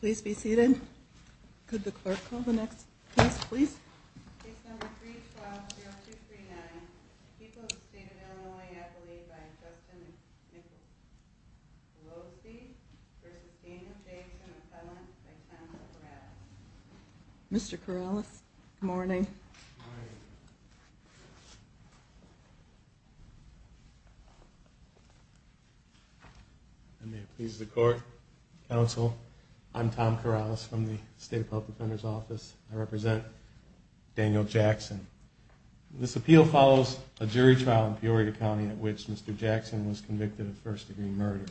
Please be seated. Could the clerk call the next please? Mr. Corrales. Good morning. Good morning. I may please the court, counsel. I'm Tom Corrales from the state public defender's office. I represent Daniel Jackson. This appeal follows a jury trial in Peoria County at which Mr. Jackson was convicted of first degree murder.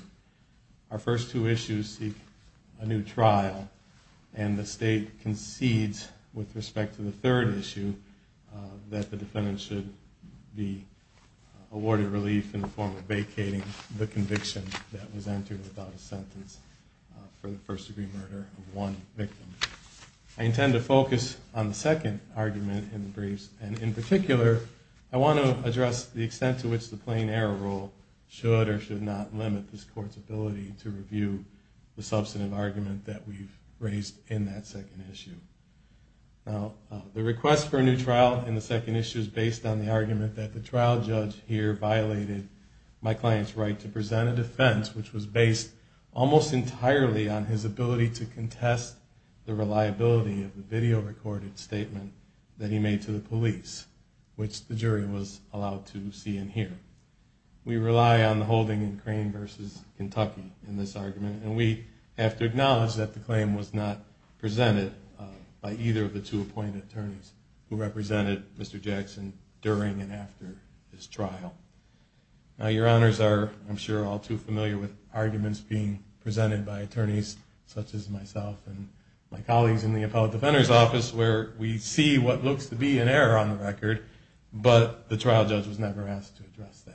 Our first two issues seek a new trial and the state concedes with respect to the third issue that Daniel Jackson was convicted of first degree murder. The defendant should be awarded relief in the form of vacating the conviction that was entered without a sentence for the first degree murder of one victim. I intend to focus on the second argument in the briefs and in particular I want to address the extent to which the plain error rule should or should not limit this court's ability to review the substantive argument that we've raised in that second issue. Now the request for a new trial in the second issue is based on the argument that the trial judge here violated my client's right to present a defense which was based almost entirely on his ability to contest the reliability of the video recorded statement that he made to the police, which the jury was allowed to see and hear. We rely on the holding in Crane v. Kentucky in this argument and we have to acknowledge that the claim was not presented by either of the two appointed attorneys who represented Mr. Jackson during and after his trial. Now your honors are I'm sure all too familiar with arguments being presented by attorneys such as myself and my colleagues in the appellate defender's office where we see what looks to be an error on the record but the trial judge was never asked to address it.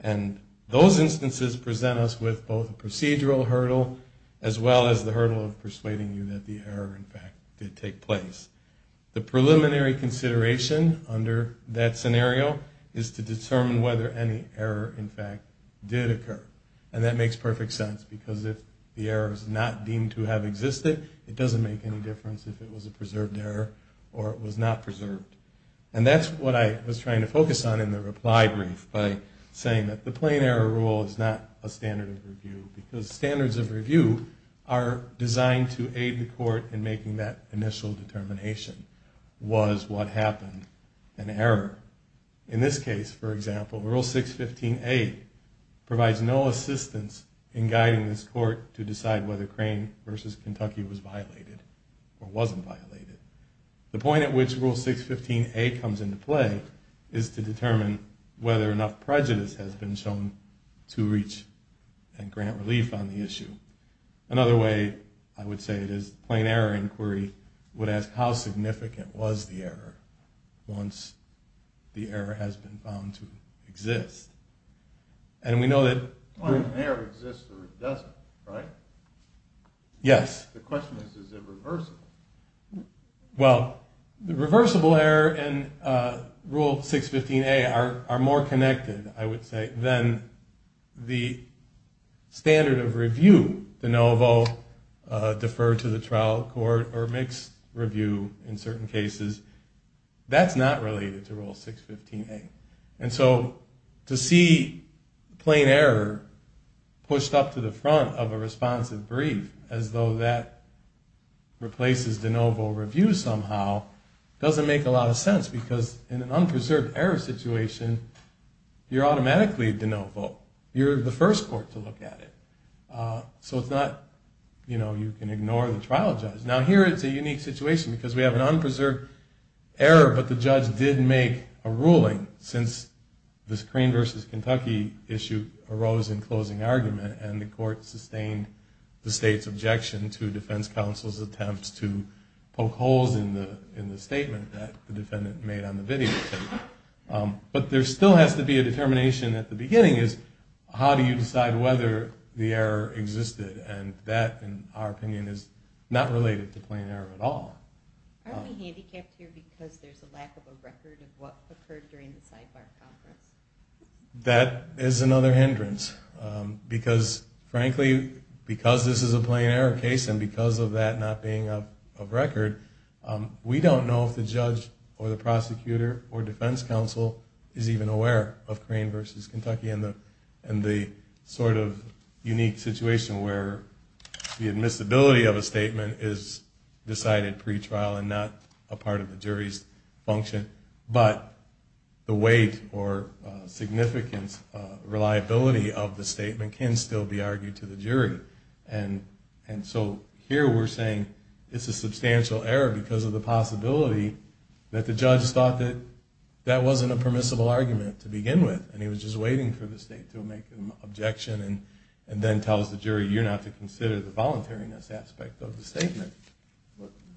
And those instances present us with both a procedural hurdle as well as the hurdle of persuading you that the error in fact did take place. The preliminary consideration under that scenario is to determine whether any error in fact did occur and that makes perfect sense because if the error is not deemed to have existed, it doesn't make any difference if it was a preserved error or it was not preserved. And that's what I was trying to focus on in the reply brief by saying that the plain error rule is not a standard of review because standards of review are designed to aid the court in making that initial determination. Was what happened an error? In this case, for example, Rule 615A provides no assistance in guiding this court to decide whether Crane v. Kentucky was violated or wasn't violated. The point at which Rule 615A comes into play is to determine whether enough prejudice has been shown to reach and grant relief on the issue. Another way I would say it is the plain error inquiry would ask how significant was the error once the error has been found to exist. And we know that plain error exists or it doesn't, right? Yes. The question is, is it reversible? Well, the reversible error and Rule 615A are more connected, I would say, than the standard of review de novo deferred to the trial court or mixed review in certain cases. That's not related to Rule 615A. And so to see plain error pushed up to the front of a responsive brief as though that replaces de novo review somehow doesn't make a lot of sense because in an unpreserved error situation, you're automatically de novo. You're the first court to look at it. So it's not, you know, you can ignore the trial judge. Now here it's a unique situation because we have an unpreserved error but the judge did make a ruling since this Crane v. Kentucky issue arose in closing argument and the court sustained the state's objection to defense counsel's attempts to poke holes in the statement that the defendant made on the video tape. But there still has to be a determination at the beginning is how do you decide whether the error existed? And that, in our opinion, is not related to plain error at all. Aren't we handicapped here because there's a lack of a record of what occurred during the sidebar conference? That is another hindrance because, frankly, because this is a plain error case and because of that not being of record, we don't know if the judge or the prosecutor or defense counsel is even aware of Crane v. Kentucky and the sort of unique situation where the admissibility of a statement is decided pre-trial and not a part of the jury's function. But the weight or significance, reliability of the statement can still be argued to the jury. And so here we're saying it's a substantial error because of the possibility that the judge thought that that wasn't a permissible argument to begin with and he was just waiting for the state to make an objection and then tell the jury you're not to consider the voluntariness aspect of the statement.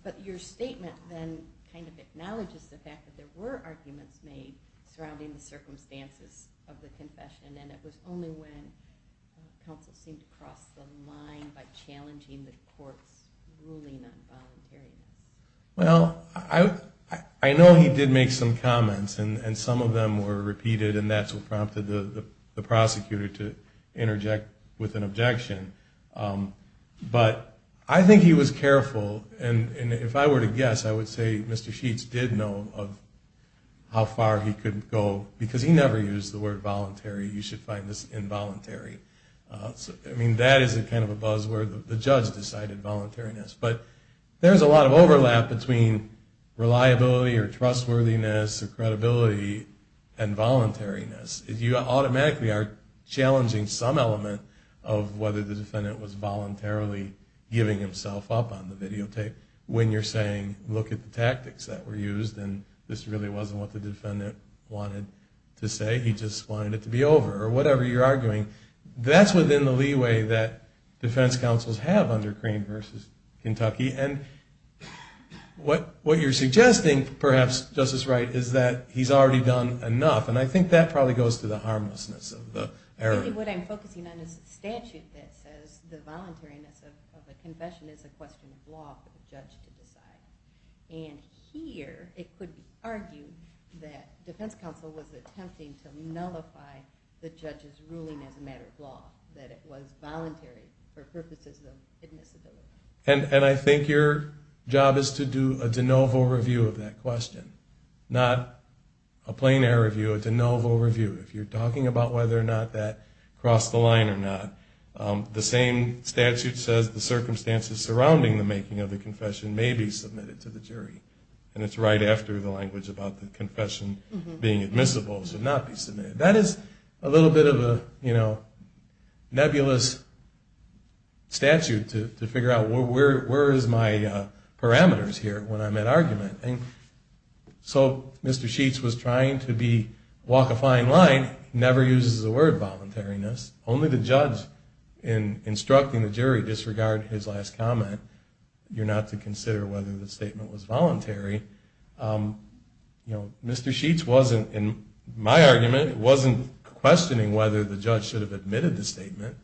But your statement then kind of acknowledges the fact that there were arguments made surrounding the circumstances of the confession and it was only when counsel seemed to cross the line by challenging the court's ruling on voluntariness. Well, I know he did make some comments and some of them were repeated and that's what prompted the prosecutor to interject with an objection. But I think he was careful and if I were to guess, I would say Mr. Sheets did know of how far he could go because he never used the word voluntary. You should find this involuntary. I mean, that is kind of a buzzword, the judge decided voluntariness. But there's a lot of overlap between reliability or trustworthiness or credibility and voluntariness. You automatically are challenging some element of whether the defendant was voluntarily giving himself up on the videotape when you're saying look at the tactics that were used and this really wasn't what the defendant wanted to say. He just wanted it to be over or whatever you're arguing. That's within the leeway that defense counsels have under Crane v. Kentucky and what you're suggesting perhaps, Justice Wright, is that he's already done enough and I think that probably goes to the harmlessness of the error. Really what I'm focusing on is a statute that says the voluntariness of a confession is a question of law for the judge to decide. And here it could be argued that defense counsel was attempting to nullify the judge's ruling as a matter of law, that it was voluntary for purposes of admissibility. And I think your job is to do a de novo review of that question, not a plein air review, a de novo review. If you're talking about whether or not that crossed the line or not, the same statute says the circumstances surrounding the making of the confession may be submitted to the jury. And it's right after the language about the confession being admissible should not be submitted. That is a little bit of a nebulous statute to figure out where is my parameters here when I'm at argument. So Mr. Sheets was trying to walk a fine line, never uses the word voluntariness. Only the judge, in instructing the jury, disregard his last comment. You're not to consider whether the statement was voluntary. Mr. Sheets wasn't, in my argument, wasn't questioning whether the judge should have admitted the statement.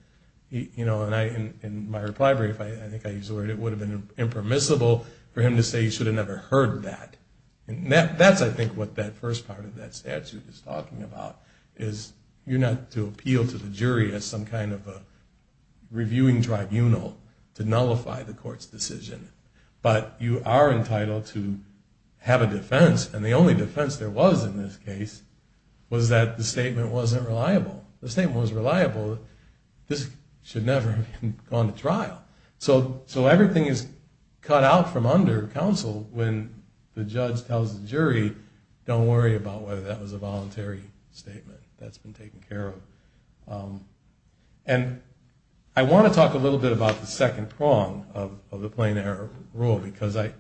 In my reply brief, I think I used the word, it would have been impermissible for him to say he should have never heard that. And that's, I think, what that first part of that statute is talking about, is you're not to appeal to the jury as some kind of a reviewing tribunal to nullify the court's decision. But you are entitled to have a defense. And the only defense there was in this case was that the statement wasn't reliable. The statement was reliable that this should never have gone to trial. So everything is cut out from under counsel when the judge tells the jury, don't worry about whether that was a voluntary statement. That's been taken care of. And I want to talk a little bit about the second prong of the plain error rule, because I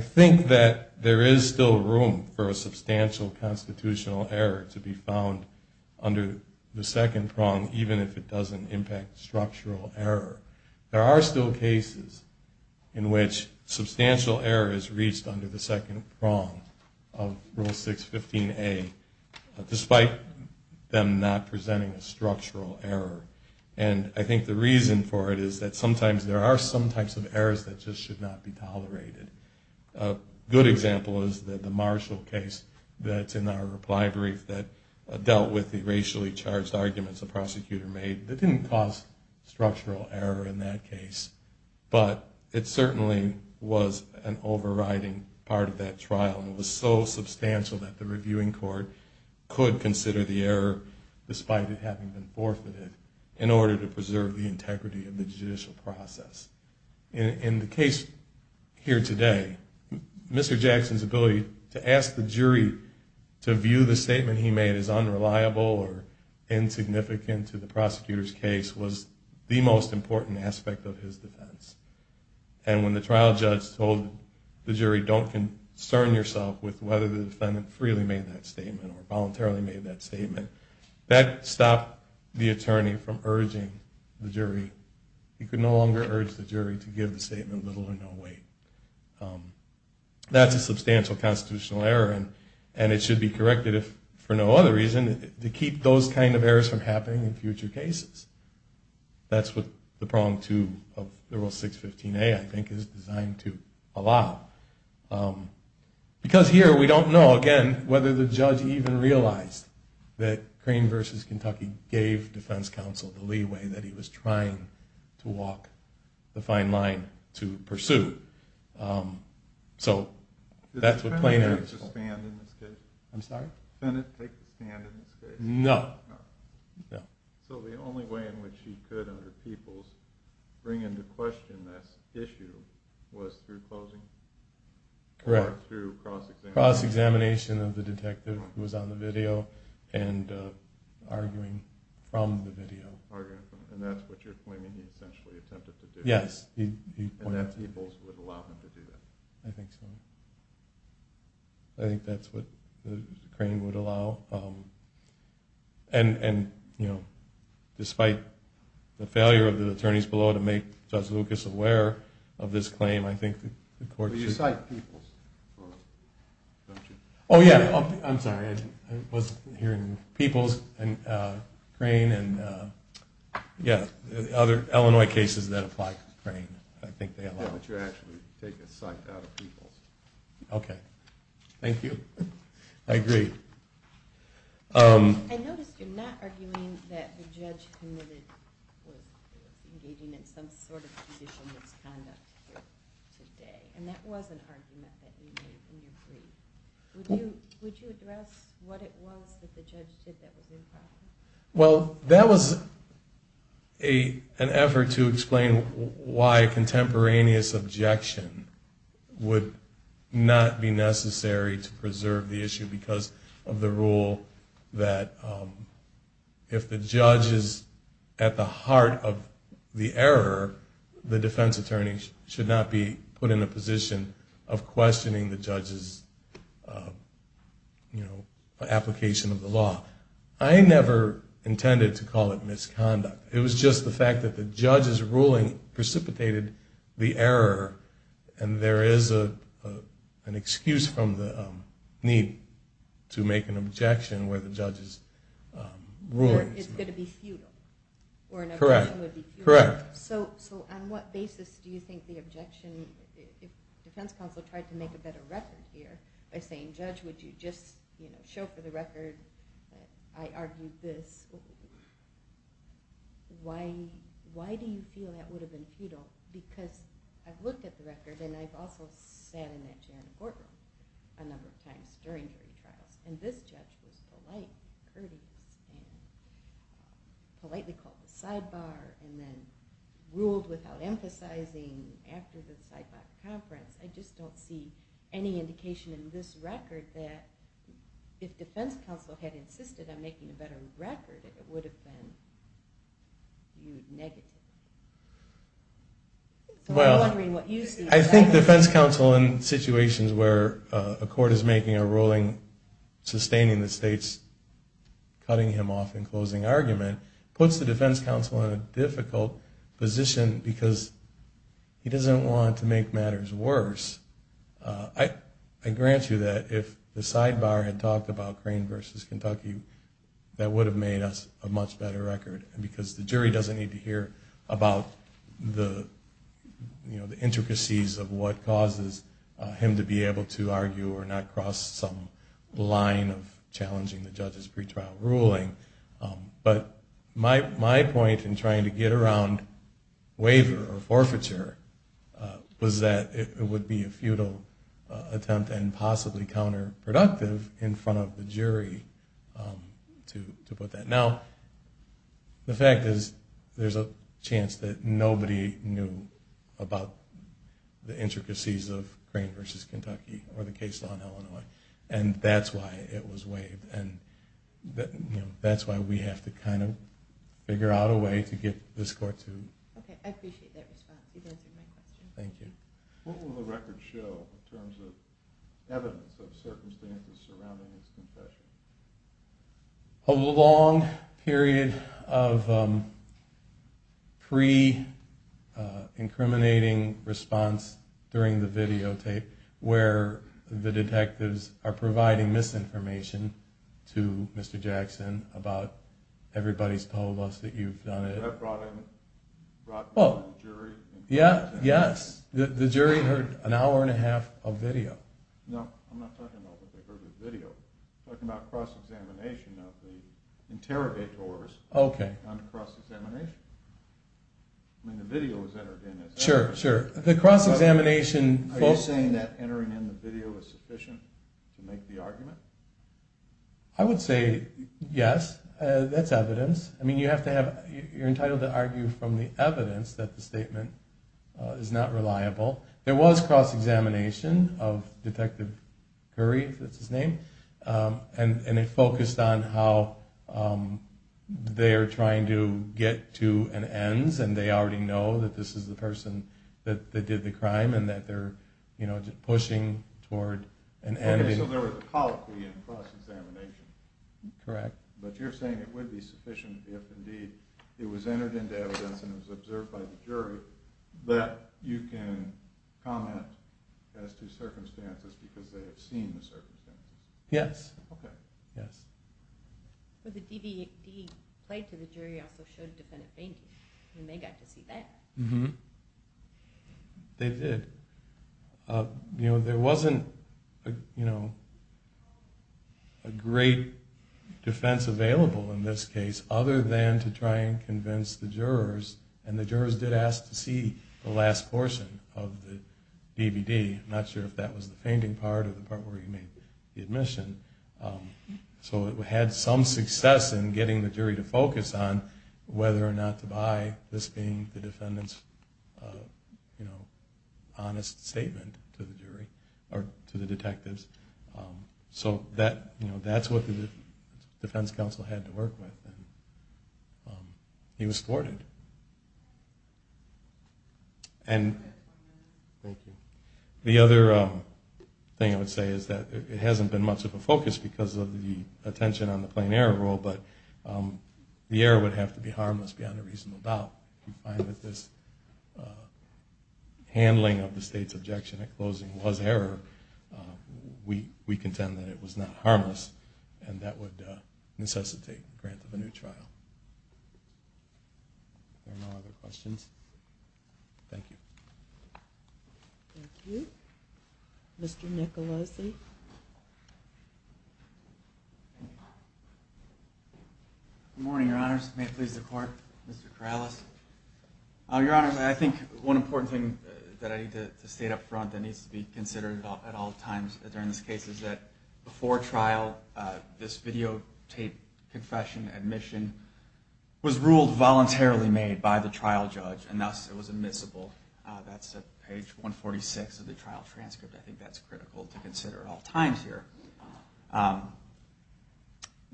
think that there is still room for a substantial constitutional error to be found under the second prong, even if it doesn't impact structural error. There are still cases in which substantial error is reached under the second prong of Rule 615A, despite them not presenting a structural error. And I think the reason for it is that sometimes there are some types of errors that just should not be tolerated. A good example is the Marshall case that's in our reply brief that dealt with the racially charged arguments the prosecutor made. That didn't cause structural error in that case, but it certainly was an overriding part of that trial. It was so substantial that the reviewing court could consider the error, despite it having been forfeited, in order to preserve the integrity of the judicial process. In the case here today, Mr. Jackson's ability to ask the jury to view the statement he made as unreliable or insignificant to the prosecutor's case was the most important aspect of his defense. And when the trial judge told the jury, don't concern yourself with whether the defendant freely made that statement or voluntarily made that statement, that stopped the attorney from urging the jury. He could no longer urge the jury to give the statement little or no weight. That's a substantial constitutional error, and it should be corrected, if for no other reason, to keep those kind of errors from happening in future cases. That's what the prong two of the rule 615A, I think, is designed to allow. Because here, we don't know, again, whether the judge even realized that Crane v. Kentucky gave defense counsel the leeway that he was trying to walk the fine line to pursue. So, that's what plaintiff's fault is. No. So, the only way in which he could, under Peoples, bring into question that issue was through closing? Correct. Or through cross-examination? Cross-examination of the detective who was on the video and arguing from the video. Arguing from the video. And that's what you're claiming he essentially attempted to do? Yes. And that Peoples would allow him to do that? I think so. I think that's what Crane would allow. And, you know, despite the failure of the attorneys below to make Judge Lucas aware of this claim, I think the court should... But you cite Peoples, don't you? Oh, yeah. I'm sorry. I wasn't hearing Peoples and Crane and, yeah, other Illinois cases that apply to Crane. I think they allow it. But you actually take a cite out of Peoples. Okay. Thank you. I agree. I noticed you're not arguing that the judge committed, was engaging in some sort of judicial misconduct here today. And that was an argument that you made in your plea. Would you address what it was that the judge did that was improper? Well, that was an effort to explain why a contemporaneous objection would not be necessary to preserve the issue because of the rule that if the judge is at the heart of the error, the defense attorney should not be put in a position of questioning the judge's application of the law. I never intended to call it misconduct. It was just the fact that the judge's ruling precipitated the error. And there is an excuse from the need to make an objection where the judge's ruling... Or it's going to be futile. Correct. Correct. So on what basis do you think the objection... The defense counsel tried to make a better record here by saying, Judge, would you just show for the record that I argued this? Why do you feel that would have been futile? Because I've looked at the record and I've also sat in that general courtroom a number of times during jury trials. And this judge was polite, courteous, and politely called the sidebar and then ruled without emphasizing after the sidebar conference. I just don't see any indication in this record that if defense counsel had insisted on making a better record, it would have been viewed negatively. I'm wondering what you see. I think defense counsel in situations where a court is making a ruling sustaining the state's cutting him off and closing argument, puts the defense counsel in a difficult position because he doesn't want to make matters worse. I grant you that if the sidebar had talked about Crane v. Kentucky, that would have made us a much better record. Because the jury doesn't need to hear about the intricacies of what causes him to be able to argue or not cross some line of challenging the judge's pretrial ruling. But my point in trying to get around waiver or forfeiture was that it would be a futile attempt and possibly counterproductive in front of the jury, to put that. Now, the fact is there's a chance that nobody knew about the intricacies of Crane v. Kentucky or the case law in Illinois. And that's why it was waived. And that's why we have to kind of figure out a way to get this court to... Okay, I appreciate that response. You've answered my question. Thank you. What will the record show in terms of evidence of circumstances surrounding his confession? A long period of pre-incriminating response during the videotape where the detectives are providing misinformation to Mr. Jackson about everybody's told us that you've done it. Was that brought in by the jury? Yes. The jury heard an hour and a half of video. No, I'm not talking about what they heard in the video. I'm talking about cross-examination of the interrogators on cross-examination. I mean, the video was entered in as evidence. Sure, sure. The cross-examination... Are you saying that entering in the video was sufficient to make the argument? I would say yes. That's evidence. I mean, you have to have... you're entitled to argue from the evidence that the statement is not reliable. There was cross-examination of Detective Curry, if that's his name, and it focused on how they're trying to get to an end and they already know that this is the person that did the crime and that they're, you know, pushing toward an end. Okay, so there was a colloquy in cross-examination. Correct. But you're saying it would be sufficient if indeed it was entered into evidence and it was observed by the jury that you can comment as to circumstances because they have seen the circumstances? Yes. Okay. Yes. But the DVD played to the jury also showed a defendant fainting, and they got to see that. They did. You know, there wasn't, you know, a great defense available in this case other than to try and convince the jurors, and the jurors did ask to see the last portion of the DVD. I'm not sure if that was the fainting part or the part where he made the admission. So it had some success in getting the jury to focus on whether or not to buy this being the defendant's, you know, honest statement to the jury or to the detectives. So that's what the defense counsel had to work with, and he was thwarted. And the other thing I would say is that it hasn't been much of a focus because of the attention on the plain error rule, but the error would have to be harmless beyond a reasonable doubt. If you find that this handling of the state's objection at closing was error, we contend that it was not harmless, and that would necessitate the grant of a new trial. If there are no other questions, thank you. Thank you. Mr. Nicolosi. Good morning, Your Honors. May it please the Court, Mr. Corrales. Your Honors, I think one important thing that I need to state up front that needs to be considered at all times during this case is that before trial, this videotaped confession admission was ruled voluntarily made by the trial judge, and thus it was admissible. That's at page 146 of the trial transcript. I think that's critical to consider.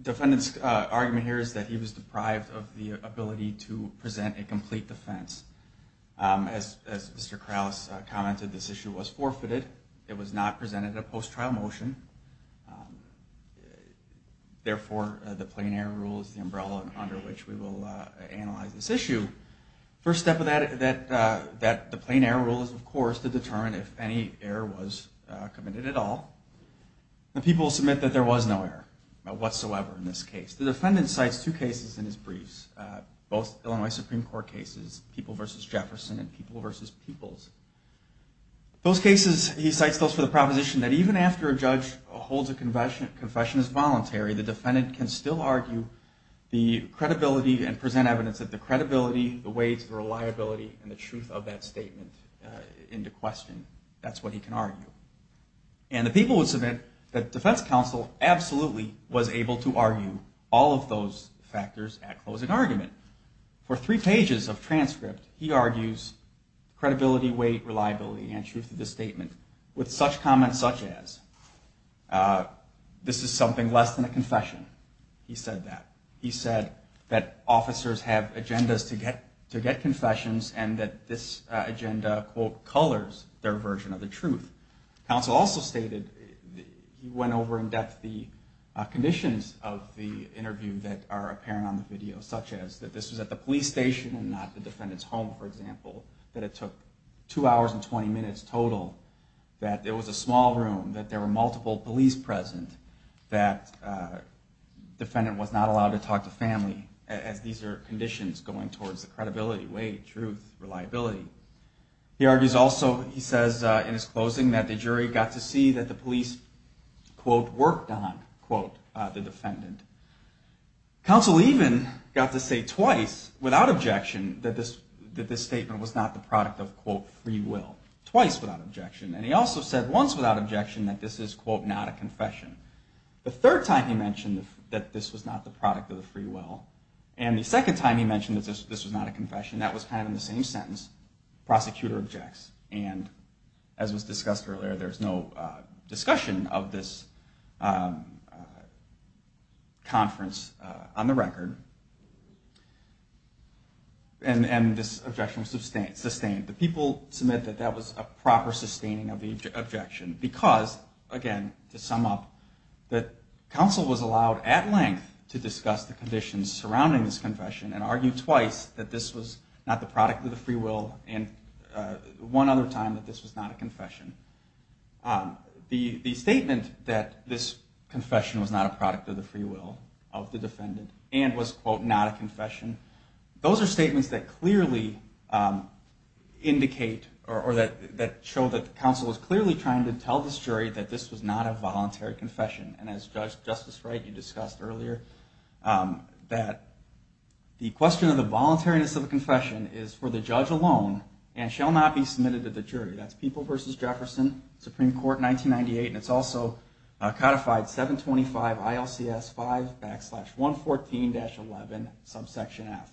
Defendant's argument here is that he was deprived of the ability to present a complete defense. As Mr. Corrales commented, this issue was forfeited. It was not presented at a post-trial motion. Therefore, the plain error rule is the umbrella under which we will analyze this issue. First step of the plain error rule is, of course, to determine if any error was committed at all. The people submit that there was no error whatsoever in this case. The defendant cites two cases in his briefs, both Illinois Supreme Court cases, People v. Jefferson and People v. Peoples. He cites those for the proposition that even after a judge holds a confession as voluntary, the defendant can still argue the credibility and present evidence that the credibility, the weight, the reliability, and the truth of that statement into question. That's what he can argue. And the people would submit that defense counsel absolutely was able to argue all of those factors at closing argument. For three pages of transcript, he argues credibility, weight, reliability, and truth of the statement with such comments such as, this is something less than a confession. He said that. He said that officers have agendas to get confessions and that this agenda, quote, colors their version of the truth. Counsel also stated, he went over in depth the conditions of the interview that are apparent on the video, such as that this was at the police station and not the defendant's home, for example, that it took two hours and 20 minutes total, that it was a small room, that there were multiple police present, that defendant was not allowed to talk to family, as these are conditions going towards the credibility, weight, truth, reliability. He argues also, he says in his closing, that the jury got to see that the police, quote, worked on, quote, the defendant. Counsel even got to say twice without objection that this statement was not the product of, quote, free will. Twice without objection. And he also said once without objection that this is, quote, not a confession. The third time he mentioned that this was not the product of the free will. And the second time he mentioned that this was not a confession, that was kind of in the same sentence, prosecutor objects. And as was discussed earlier, there's no discussion of this conference on the record. And this objection was sustained. The people submit that that was a proper sustaining of the objection because, again, to sum up, that counsel was allowed at length to discuss the conditions surrounding this confession and argue twice that this was not the product of the free will and one other time that this was not a confession. The statement that this confession was not a product of the free will of the defendant and was, quote, not a confession, those are statements that clearly indicate or that show that counsel was clearly trying to tell this jury that this was not a voluntary confession. And as Justice Wright, you discussed earlier, that the question of the voluntariness of the confession is for the judge alone and shall not be submitted to the jury. That's People v. Jefferson, Supreme Court, 1998. And it's also codified 725 ILCS 5 backslash 114-11 subsection F.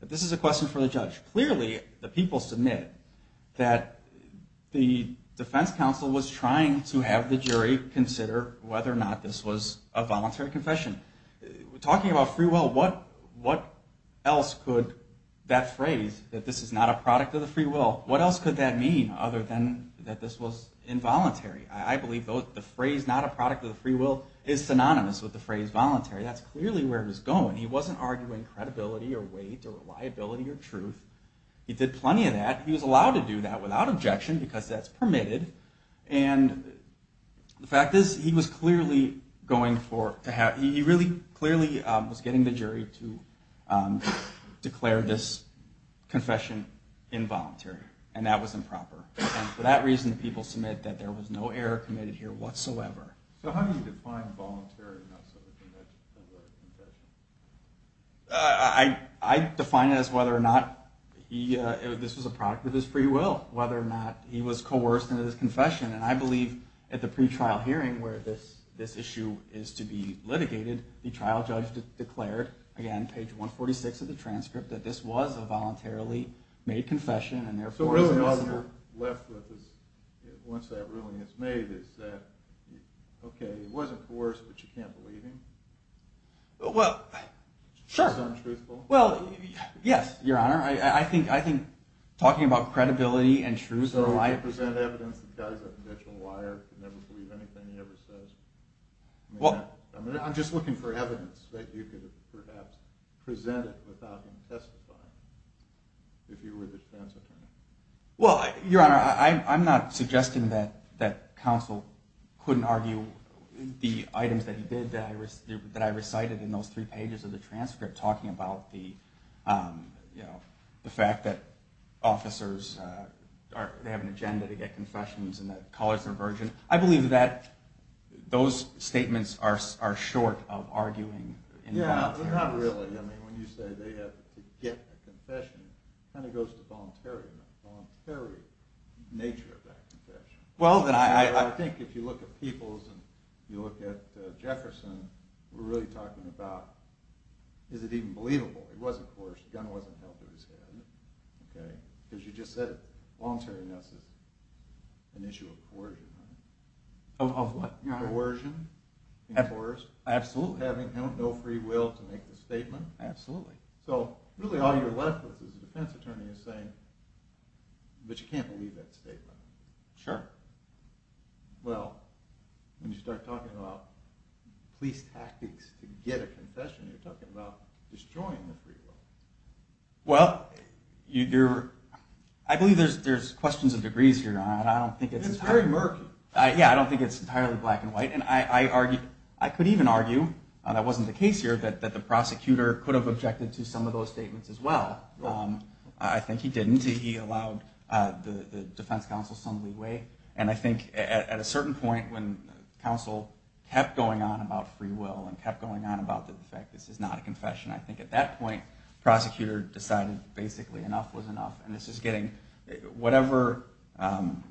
But this is a question for the judge. Clearly, the people submit that the defense counsel was trying to have the jury consider whether or not this was a voluntary confession. Talking about free will, what else could that phrase, that this is not a product of the free will, what else could that mean other than that this was involuntary? I believe the phrase not a product of the free will is synonymous with the phrase voluntary. That's clearly where it was going. He wasn't arguing credibility or weight or reliability or truth. He did plenty of that. He was allowed to do that without objection because that's permitted. And the fact is, he really clearly was getting the jury to declare this confession involuntary, and that was improper. And for that reason, the people submit that there was no error committed here whatsoever. So how do you define voluntary? I define it as whether or not this was a product of his free will, whether or not he was coerced into this confession. And I believe at the pre-trial hearing where this issue is to be litigated, the trial judge declared, again, page 146 of the transcript, that this was a voluntarily made confession and, therefore, it wasn't. So really all you're left with once that ruling is made is that, okay, he wasn't coerced, but you can't believe him. Well, sure. It's untruthful. Well, yes, Your Honor. I think talking about credibility and truth of life... So you present evidence that the guy's a potential liar, could never believe anything he ever says? I'm just looking for evidence that you could have perhaps presented without him testifying if you were the defense attorney. Well, Your Honor, I'm not suggesting that counsel couldn't argue the items that he did that I recited in those three pages of the transcript, talking about the fact that officers have an agenda to get confessions and that collars are virgin. I believe that those statements are short of arguing involuntarily. Yeah, not really. I mean, when you say they have to get a confession, Well, then I think if you look at Peoples and you look at Jefferson, we're really talking about is it even believable? He wasn't coerced. The gun wasn't held to his head. Okay? Because you just said voluntariness is an issue of coercion. Of what, Your Honor? Coercion. Absolutely. Having no free will to make the statement. Absolutely. So really all you're left with as a defense attorney is saying, but you can't believe that statement. Sure. Well, when you start talking about police tactics to get a confession, you're talking about destroying the free will. Well, I believe there's questions of degrees here. It's very murky. Yeah, I don't think it's entirely black and white. And I could even argue, and that wasn't the case here, that the prosecutor could have objected to some of those statements as well. I think he didn't. He allowed the defense counsel some leeway. And I think at a certain point when counsel kept going on about free will and kept going on about the fact that this is not a confession, I think at that point the prosecutor decided basically enough was enough. And this is getting whatever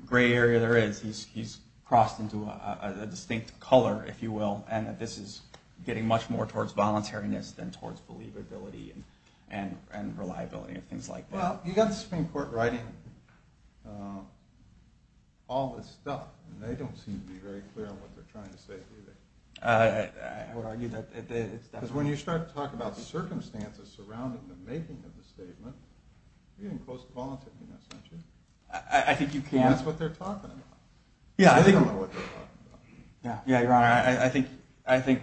gray area there is, he's crossed into a distinct color, if you will, and that this is getting much more towards voluntariness than towards believability and reliability and things like that. Well, you've got the Supreme Court writing all this stuff, and they don't seem to be very clear on what they're trying to say, do they? I would argue that it's definitely. Because when you start to talk about the circumstances surrounding the making of the statement, you're getting close to voluntariness, aren't you? I think you can. That's what they're talking about. I don't know what they're talking about. Yeah, you're right. I think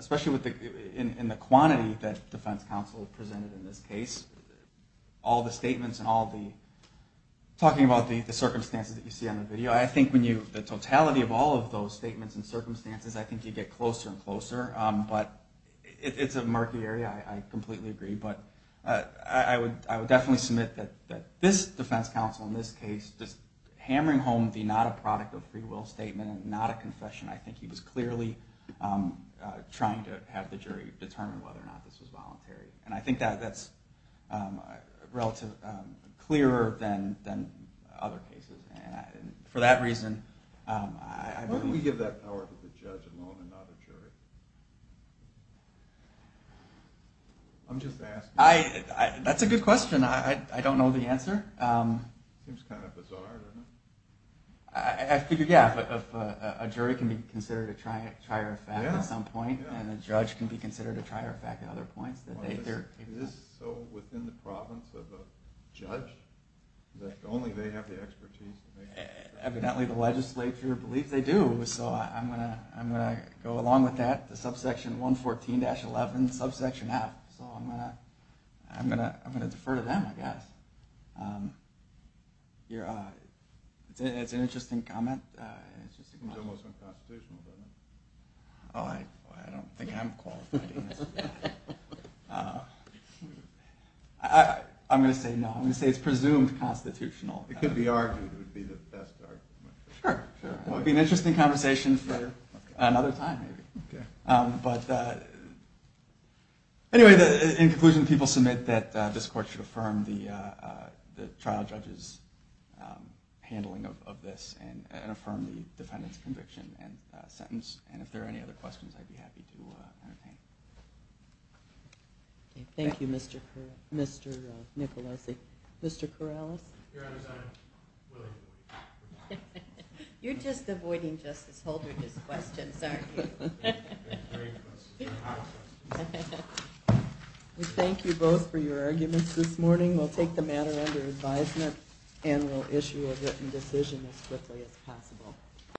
especially in the quantity that defense counsel presented in this case, all the statements and all the talking about the circumstances that you see on the video, I think the totality of all of those statements and circumstances, I think you get closer and closer. But it's a murky area. I completely agree. But I would definitely submit that this defense counsel in this case, just hammering home the not a product of free will statement and not a confession, I think he was clearly trying to have the jury determine whether or not this was voluntary. I think that's relatively clearer than other cases. For that reason, I believe... Why don't we give that power to the judge and not another jury? I'm just asking. That's a good question. I don't know the answer. It seems kind of bizarre, doesn't it? I figure, yeah, a jury can be considered a trier of fact at some point and a judge can be considered a trier of fact at other points. Is it so within the province of a judge that only they have the expertise? Evidently the legislature believes they do. So I'm going to go along with that, the subsection 114-11, subsection F. So I'm going to defer to them, I guess. It's an interesting comment. It's almost unconstitutional, isn't it? Oh, I don't think I'm qualified. I'm going to say no. I'm going to say it's presumed constitutional. It could be argued. It would be the best argument. Sure. It would be an interesting conversation for another time, maybe. But anyway, in conclusion, the people submit that this court should affirm the trial judge's handling of this and affirm the defendant's conviction and sentence. And if there are any other questions, I'd be happy to entertain. Thank you, Mr. Nicolosi. Mr. Corrales? Your Honor, I'm willing to leave. You're just avoiding Justice Holder's questions, aren't you? We thank you both for your arguments this morning. We'll take the matter under advisement and we'll issue a written decision as quickly as possible.